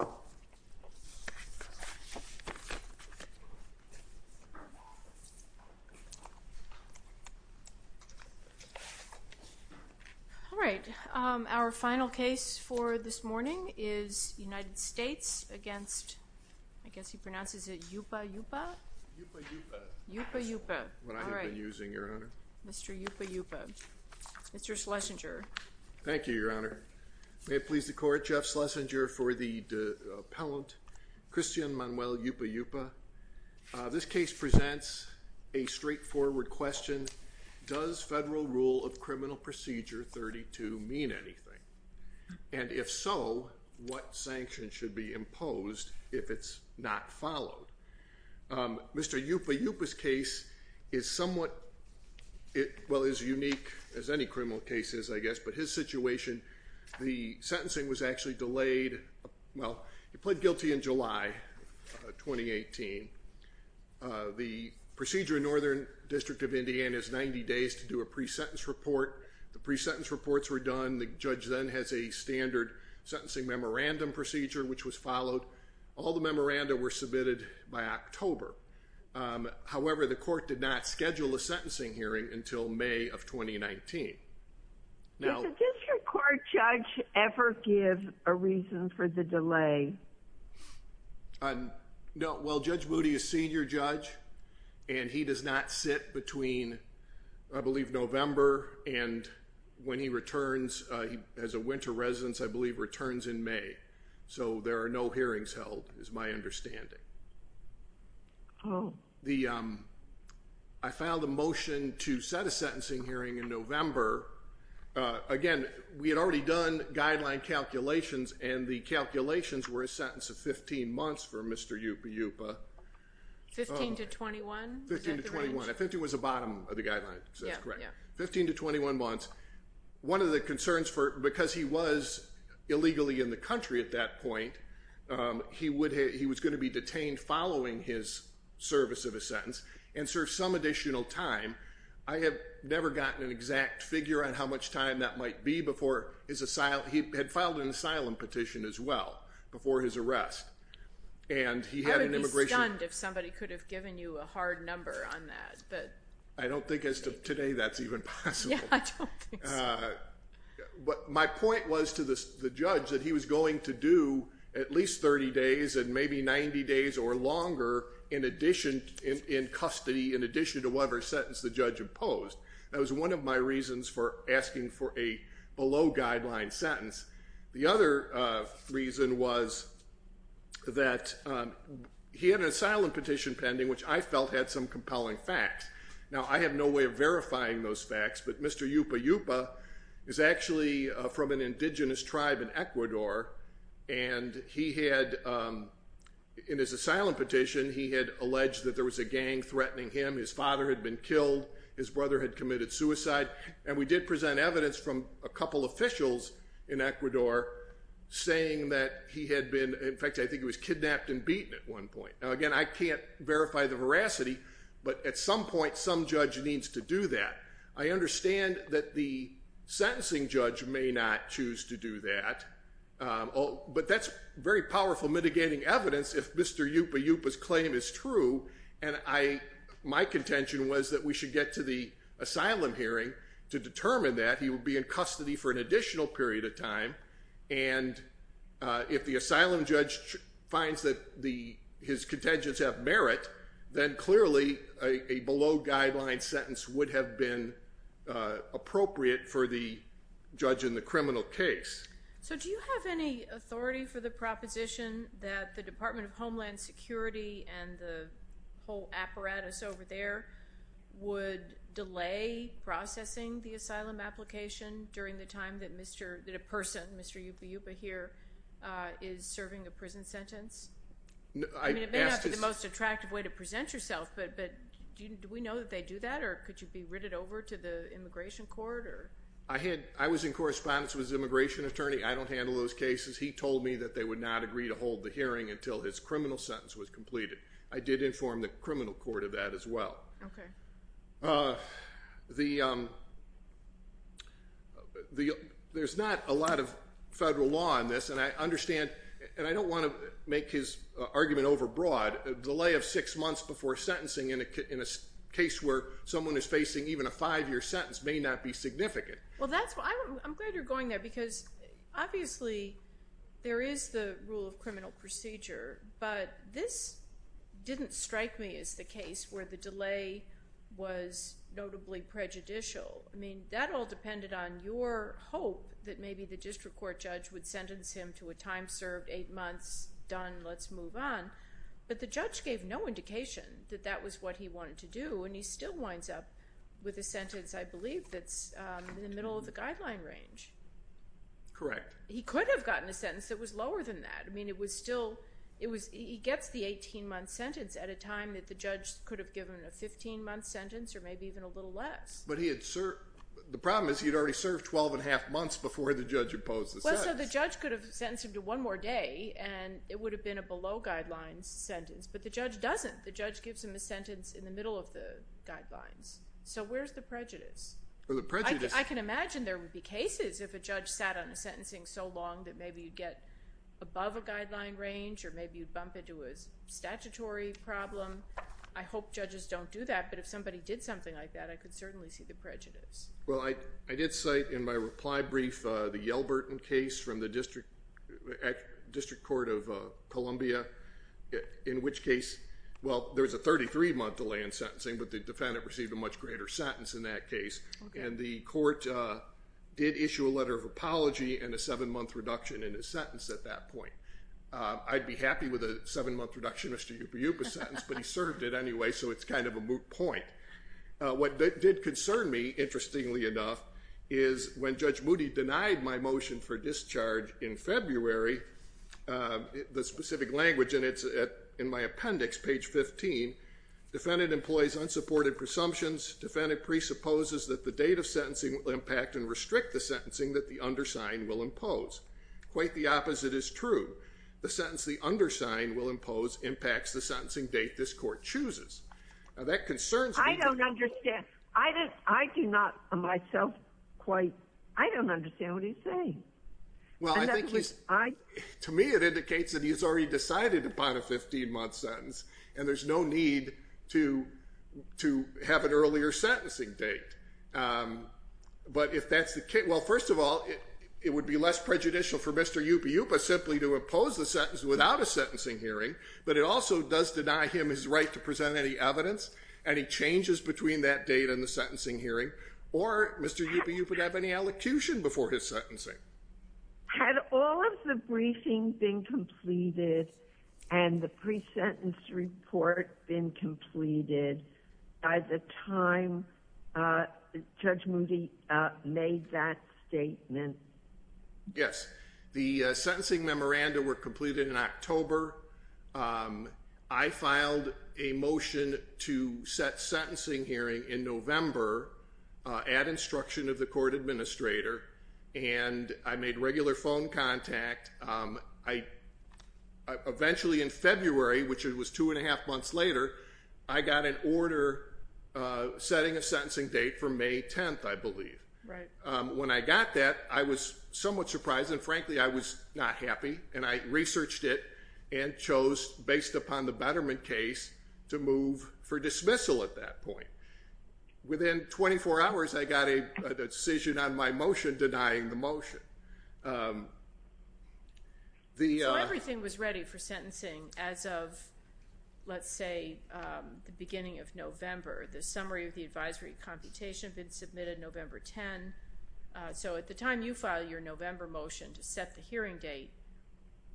All right, our final case for this morning is United States against, I guess he pronounces it Yupa Yupa Yupa Yupa Yupa, what I have been using your honor, Mr. Yupa Yupa, Mr. Schlesinger. Thank you, your honor. May it please the court, Jeff Schlesinger for the appellant, Cristian Manuel Yupa Yupa. This case presents a straightforward question. Does federal rule of criminal procedure 32 mean anything? And if so, what sanctions should be imposed if it's not followed? Mr. Yupa Yupa's case is somewhat, well, as unique as any criminal case is, I guess, but his situation, the sentencing was actually delayed. Well, he pled guilty in July 2018. The procedure in Northern District of Indiana is 90 days to do a pre-sentence report. The pre-sentence reports were done. The judge then has a standard sentencing memorandum procedure, which was followed. All the memoranda were submitted by October. However, the court did not schedule a sentencing hearing until May of 2019. Does the district court judge ever give a reason for the delay? No. Well, Judge Moody is senior judge and he does not sit between, I believe, November and when he returns as a winter residence, I believe returns in May. So there are no hearings held, is my understanding. I filed a motion to set a sentencing hearing in November. Again, we had already done guideline calculations and the calculations were a sentence of 15 months for Mr. Yupa Yupa. 15 to 21? 15 to 21. 15 was the bottom of the guideline, so that's correct. 15 to 21 months. One of the He was going to be detained following his service of a sentence and serve some additional time. I have never gotten an exact figure on how much time that might be before his asylum. He had filed an asylum petition as well before his arrest and he had an immigration. I would be stunned if somebody could have given you a hard number on that. I don't think as of today that's even possible. But my point was to the judge that he was going to do at least 30 days and maybe 90 days or longer in addition, in custody, in addition to whatever sentence the judge imposed. That was one of my reasons for asking for a below guideline sentence. The other reason was that he had an asylum petition pending, which I felt had some compelling facts. Now, I have no way of verifying those facts, but Mr. Yupa Yupa is actually from an indigenous tribe in Ecuador and he had, in his asylum petition, he had alleged that there was a gang threatening him, his father had been killed, his brother had committed suicide, and we did present evidence from a couple officials in Ecuador saying that he had been, in fact, I think he was kidnapped and beaten at one point. Now, I understand that the sentencing judge may not choose to do that, but that's very powerful mitigating evidence if Mr. Yupa Yupa's claim is true and my contention was that we should get to the asylum hearing to determine that. He would be in custody for an additional period of time and if the asylum judge finds that his contentions have merit, then clearly a below guideline sentence would have been appropriate for the judge in the criminal case. So, do you have any authority for the proposition that the Department of Homeland Security and the whole apparatus over there would delay processing the asylum application during the time that a person, Mr. Yupa Yupa here, is serving a prison sentence? I mean, it may not be the most attractive way to present yourself, but do we know that they do that or could you be written over to the immigration court? I was in correspondence with his immigration attorney. I don't handle those cases. He told me that they would not agree to hold the hearing until his criminal sentence was completed. I did inform the criminal court of that as well. There's not a lot of federal law on this and I understand, and I don't want to make his argument overbroad, a delay of six months before sentencing in a case where someone is facing even a five-year sentence may not be significant. Well, I'm glad you're going there because obviously there is the rule of criminal procedure, but this didn't strike me as the case where the delay was notably prejudicial. I mean, that all depended on your hope that maybe the district court judge would sentence him to a time served, eight months, done, let's move on, but the judge gave no indication that that was what he wanted to do and he still winds up with a sentence, I believe, that's in the middle of the guideline range. Correct. He could have gotten a sentence that was lower than that. I mean, it was still, it was, he gets the 18-month sentence at a time that the judge could have given a 15-month sentence or maybe even a little less. But he had, the problem is he'd already served 12 and a half months before the judge opposed the sentence. Well, so the judge could have sentenced him to one more day and it would have been a below guidelines sentence, but the judge doesn't. The judge gives him a sentence in the middle of the guidelines. So where's the prejudice? I can imagine there would be cases if a judge sat on a sentencing so long that maybe you'd get above a guideline range or maybe you'd bump into a statutory problem. I hope judges don't do that, but if somebody did something like that, I could certainly see the prejudice. Well, I did cite in my reply brief the Yelburton case from the District Court of Columbia, in which case, well, there was a 33-month delay in sentencing, but the defendant received a much greater sentence in that case. And the court did issue a letter of apology and a seven-month reduction in his sentence at that point. I'd be happy with a seven-month reduction in Mr. Yupiupa's sentence, but he served it anyway, so it's kind of a moot point. What did concern me, interestingly enough, is when Judge Moody denied my motion for discharge in February, the specific language in my appendix, page 15, defendant employs unsupported presumptions. Defendant presupposes that the date of sentencing will impact and restrict the sentencing that the opposite is true. The sentence the undersigned will impose impacts the sentencing date this court chooses. Now, that concerns me. I don't understand. I do not, myself, quite, I don't understand what he's saying. Well, I think he's, to me, it indicates that he's already decided upon a 15-month sentence, and there's no need to have an earlier sentencing date. But if that's the case, well, first of all, it would be less prejudicial for Mr. Yupiupa simply to impose the sentence without a sentencing hearing, but it also does deny him his right to present any evidence, any changes between that date and the sentencing hearing, or Mr. Yupiupa would have any elocution before his sentencing. Had all of the briefing been completed and the pre-sentence report been completed by the time Judge Moody made that statement? Yes. The sentencing memoranda were completed in October. I filed a motion to set sentencing hearing in November at instruction of the court administrator, and I made regular phone contact. I eventually, in February, which it was two and a half months later, I got an order setting a sentencing date for May 10th, I believe. When I got that, I was somewhat surprised, and frankly, I was not happy, and I researched it and chose, based upon the Betterment case, to move for dismissal at that point. Within 24 hours, I got a decision on my motion denying the motion. So everything was ready for sentencing as of, let's say, the beginning of November. The summary of the advisory computation had been submitted November 10, so at the time you filed your November motion to set the hearing date,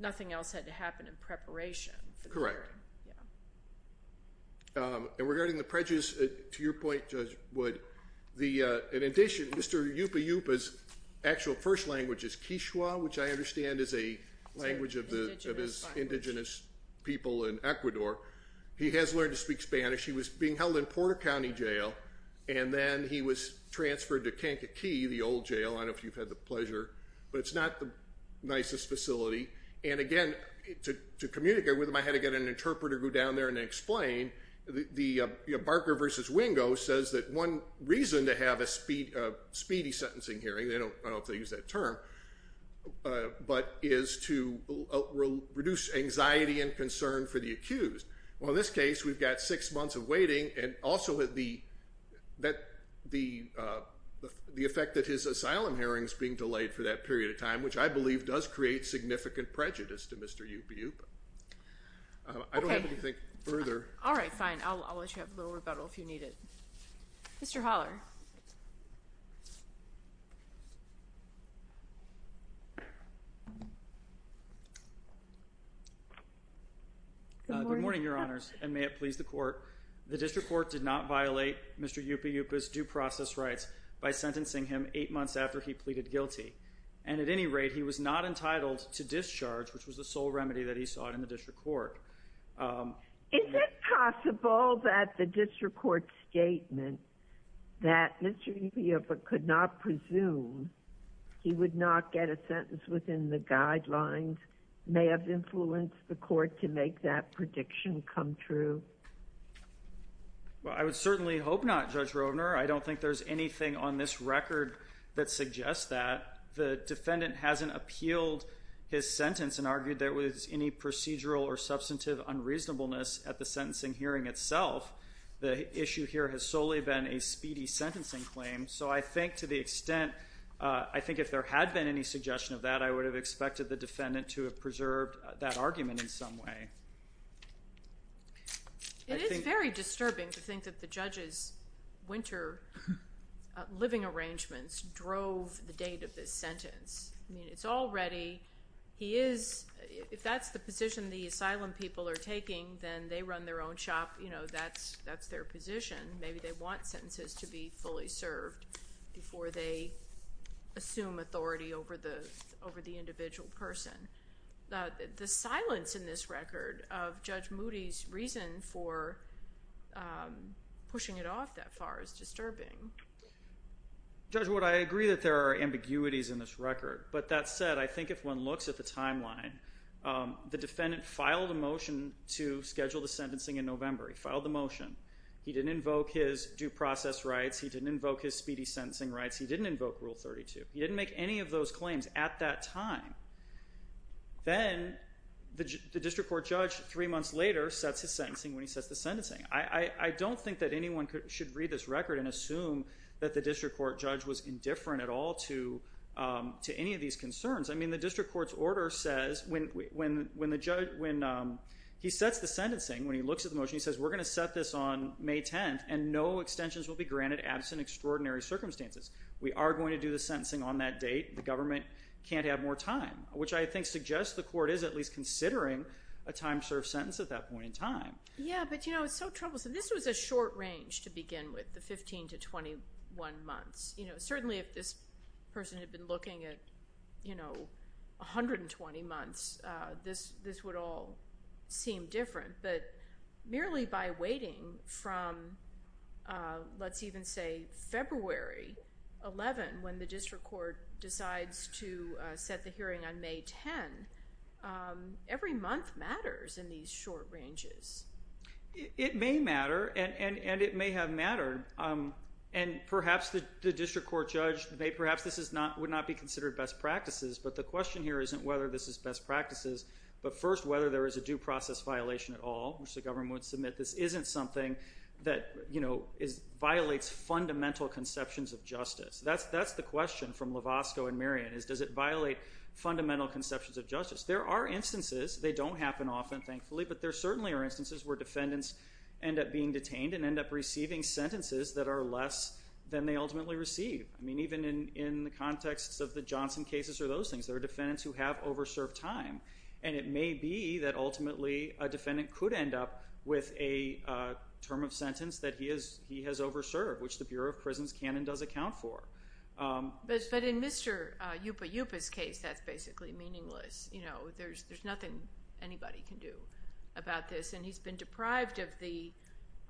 nothing else had to happen in preparation. Correct. And regarding the prejudice, to your language is Kishwa, which I understand is a language of his indigenous people in Ecuador. He has learned to speak Spanish. He was being held in Porter County Jail, and then he was transferred to Kankakee, the old jail. I don't know if you've had the pleasure, but it's not the nicest facility. And again, to communicate with him, I had to get an interpreter to go down there and explain. Barker v. Wingo says that one reason to have a speedy sentencing hearing, I don't know if they use that term, but is to reduce anxiety and concern for the accused. Well, in this case, we've got six months of waiting, and also the effect that his asylum hearing is being delayed for that period of time, which I believe does create significant prejudice to Mr. Yupiup. I don't have to think further. All right, fine. I'll let you have a little rebuttal if you need it. Mr. Holler. Good morning, Your Honors, and may it please the court. The district court did not violate Mr. Yupiup's due process rights by sentencing him eight months after he pleaded guilty. And at any rate, he was not entitled to discharge, which was the sole reason. Does that mean that the district court's statement that Mr. Yupiup could not presume he would not get a sentence within the guidelines may have influenced the court to make that prediction come true? Well, I would certainly hope not, Judge Rovner. I don't think there's anything on this record that suggests that. The defendant hasn't appealed his sentence and argued there was any procedural or substantive unreasonableness at the sentencing hearing itself. The issue here has solely been a speedy sentencing claim. So I think to the extent, I think if there had been any suggestion of that, I would have expected the defendant to have preserved that argument in some way. It is very disturbing to think that the judge's winter living arrangements drove the date of this sentence. I mean, it's already, he is, if that's the position the asylum people are taking, then they run their own shop. You know, that's their position. Maybe they want sentences to be fully served before they assume authority over the individual person. The silence in this record of Judge Moody's reason for pushing it off that far is disturbing. Judge Wood, I agree that there are ambiguities in this record. But that said, I think if one looks at the timeline, the defendant filed a motion to schedule the sentencing in November. He filed the motion. He didn't invoke his due process rights. He didn't invoke his speedy sentencing rights. He didn't invoke Rule 32. He didn't make any of those claims at that time. Then the district court judge, three months later, sets his sentencing when he sets the sentencing. I don't think that anyone should read this record and assume that the district court judge was indifferent at all to any of these concerns. I mean, the district court's order says, when he sets the sentencing, when he looks at the motion, he says, we're going to set this on May 10th and no extensions will be granted absent extraordinary circumstances. We are going to do the sentencing on that date. The government can't have more time, which I think suggests the court is at least considering a time-served sentence at that point in time. Yeah, but you know, it's so troublesome. This was a short range to begin with, the 15 to 21 months. You know, certainly if this person had been looking at, you know, 120 months, this would all seem different. But merely by waiting from, let's even say, February 11, when the district court decides to set the hearing on May 10, every month matters in these short ranges. It may matter, and it may have mattered. And perhaps the district court judge, perhaps this would not be considered best practices, but the question here isn't whether this is best practices, but first whether there is a due process violation at all, which the government would submit. This isn't something that, you know, violates fundamental conceptions of justice. That's the question from Lovasco and Merian, is does it violate fundamental conceptions of justice. There are instances, they don't happen often, thankfully, but there certainly are instances where defendants end up being detained and end up receiving sentences that are less than they ultimately receive. I mean, even in the context of the Johnson cases or those things, there are defendants who have over-served time. And it may be that ultimately a defendant could end up with a term of sentence that he has over-served, which the Bureau of Prisons can and does account for. But in Mr. Yupa Yupa's case, that's basically meaningless. You know, there's nothing anybody can do about this. And he's been deprived of the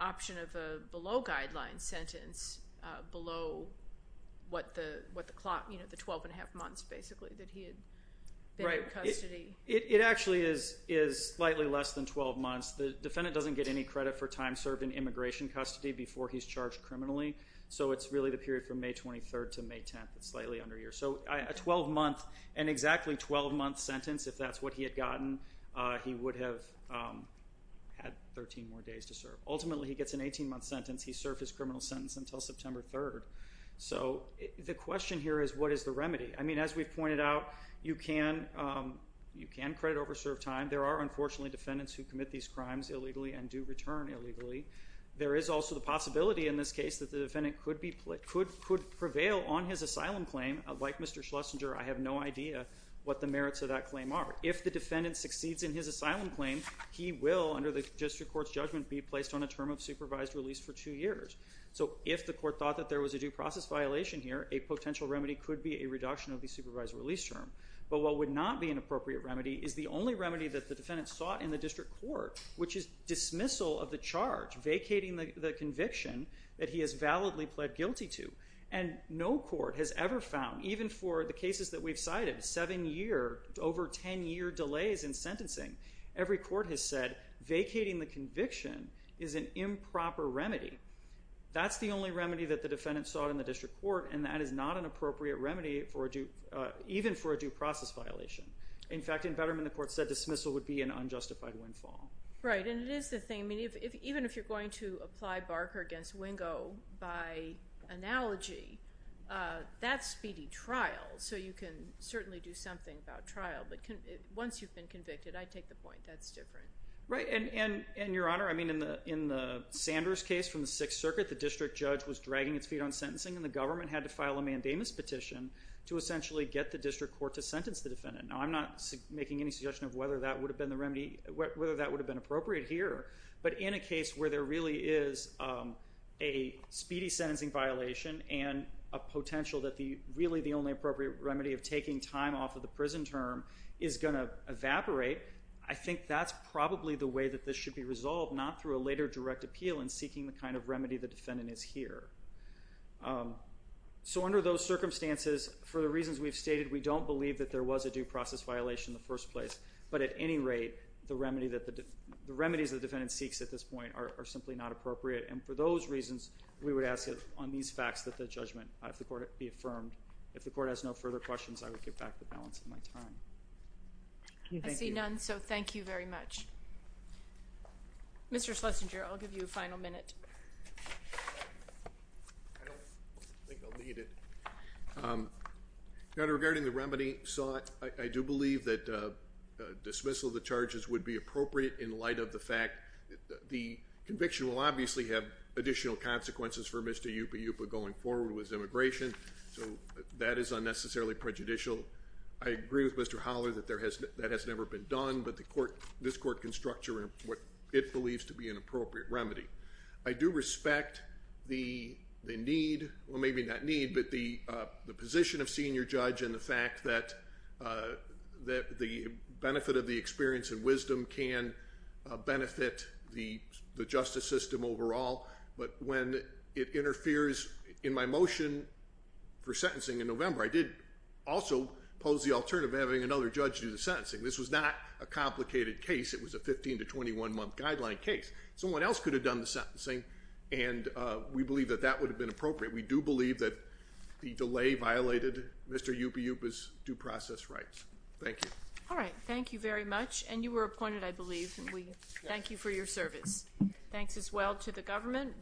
option of a below-guideline sentence below what the clock, you know, the 12 and a half months basically that he had been in custody. It actually is slightly less than 12 months. The defendant doesn't get any credit for time served in immigration custody before he's charged on May 23rd to May 10th. It's slightly under a year. So, a 12-month, an exactly 12-month sentence, if that's what he had gotten, he would have had 13 more days to serve. Ultimately, he gets an 18-month sentence. He served his criminal sentence until September 3rd. So, the question here is, what is the remedy? I mean, as we've pointed out, you can credit over-served time. There are, unfortunately, defendants who commit these crimes illegally and do return illegally. There is also the possibility in this case that the defendant could prevail on his asylum claim. Like Mr. Schlesinger, I have no idea what the merits of that claim are. If the defendant succeeds in his asylum claim, he will, under the district court's judgment, be placed on a term of supervised release for two years. So, if the court thought that there was a due process violation here, a potential remedy could be a reduction of the charge, vacating the conviction that he has validly pled guilty to. And no court has ever found, even for the cases that we've cited, 7-year, over 10-year delays in sentencing, every court has said, vacating the conviction is an improper remedy. That's the only remedy that the defendant sought in the district court, and that is not an appropriate remedy even for a due process violation. In fact, in Betterman, the court said dismissal would be an unjustified windfall. Right, and it is the thing, even if you're going to apply Barker against Wingo by analogy, that's speedy trial, so you can certainly do something about trial, but once you've been convicted, I take the point, that's different. Right, and Your Honor, in the Sanders case from the Sixth Circuit, the district judge was dragging its feet on sentencing, and the government had to file a mandamus petition to essentially get the district court to sentence the defendant. Now, I'm not making any suggestion of whether that would have been the remedy, whether that would have been appropriate here, but in a case where there really is a speedy sentencing violation, and a potential that really the only appropriate remedy of taking time off of the prison term is going to evaporate, I think that's probably the way that this should be resolved, not through a later direct appeal and seeking the kind of remedy the defendant is here. So under those circumstances, for the reasons we've stated, we don't believe that there was a due process violation in the first place, but at any rate, the remedies the defendant seeks at this point are simply not appropriate, and for those reasons, we would ask that on these facts that the judgment be affirmed. If the court has no further questions, I would give back the balance of my time. I see none, so thank you very much. Mr. Schlesinger, I'll give you a final minute. I don't think I'll need it. Regarding the remedy sought, I do believe that dismissal of the charges would be appropriate in light of the fact that the conviction will obviously have additional consequences for Mr. Yupi Yupa going forward with his immigration, so that is unnecessarily prejudicial. I agree with Mr. Howler that that has never been done, but this court can structure what it believes to be an appropriate remedy. I do respect the need, well maybe not need, but the position of senior judge and the fact that the benefit of the experience and wisdom can benefit the justice system overall, but when it interferes in my motion for sentencing in November, I did also pose the alternative of having another judge do the sentencing. This was not a complicated case. It was a 15 to 21 month guideline case. Someone else could have done the sentencing, and we believe that that would have been appropriate. We do believe that the delay violated Mr. Yupi Yupa's due process rights. Thank you. All right. Thank you very much, and you were appointed, I believe, and we thank you for your service. Thanks as well to the government.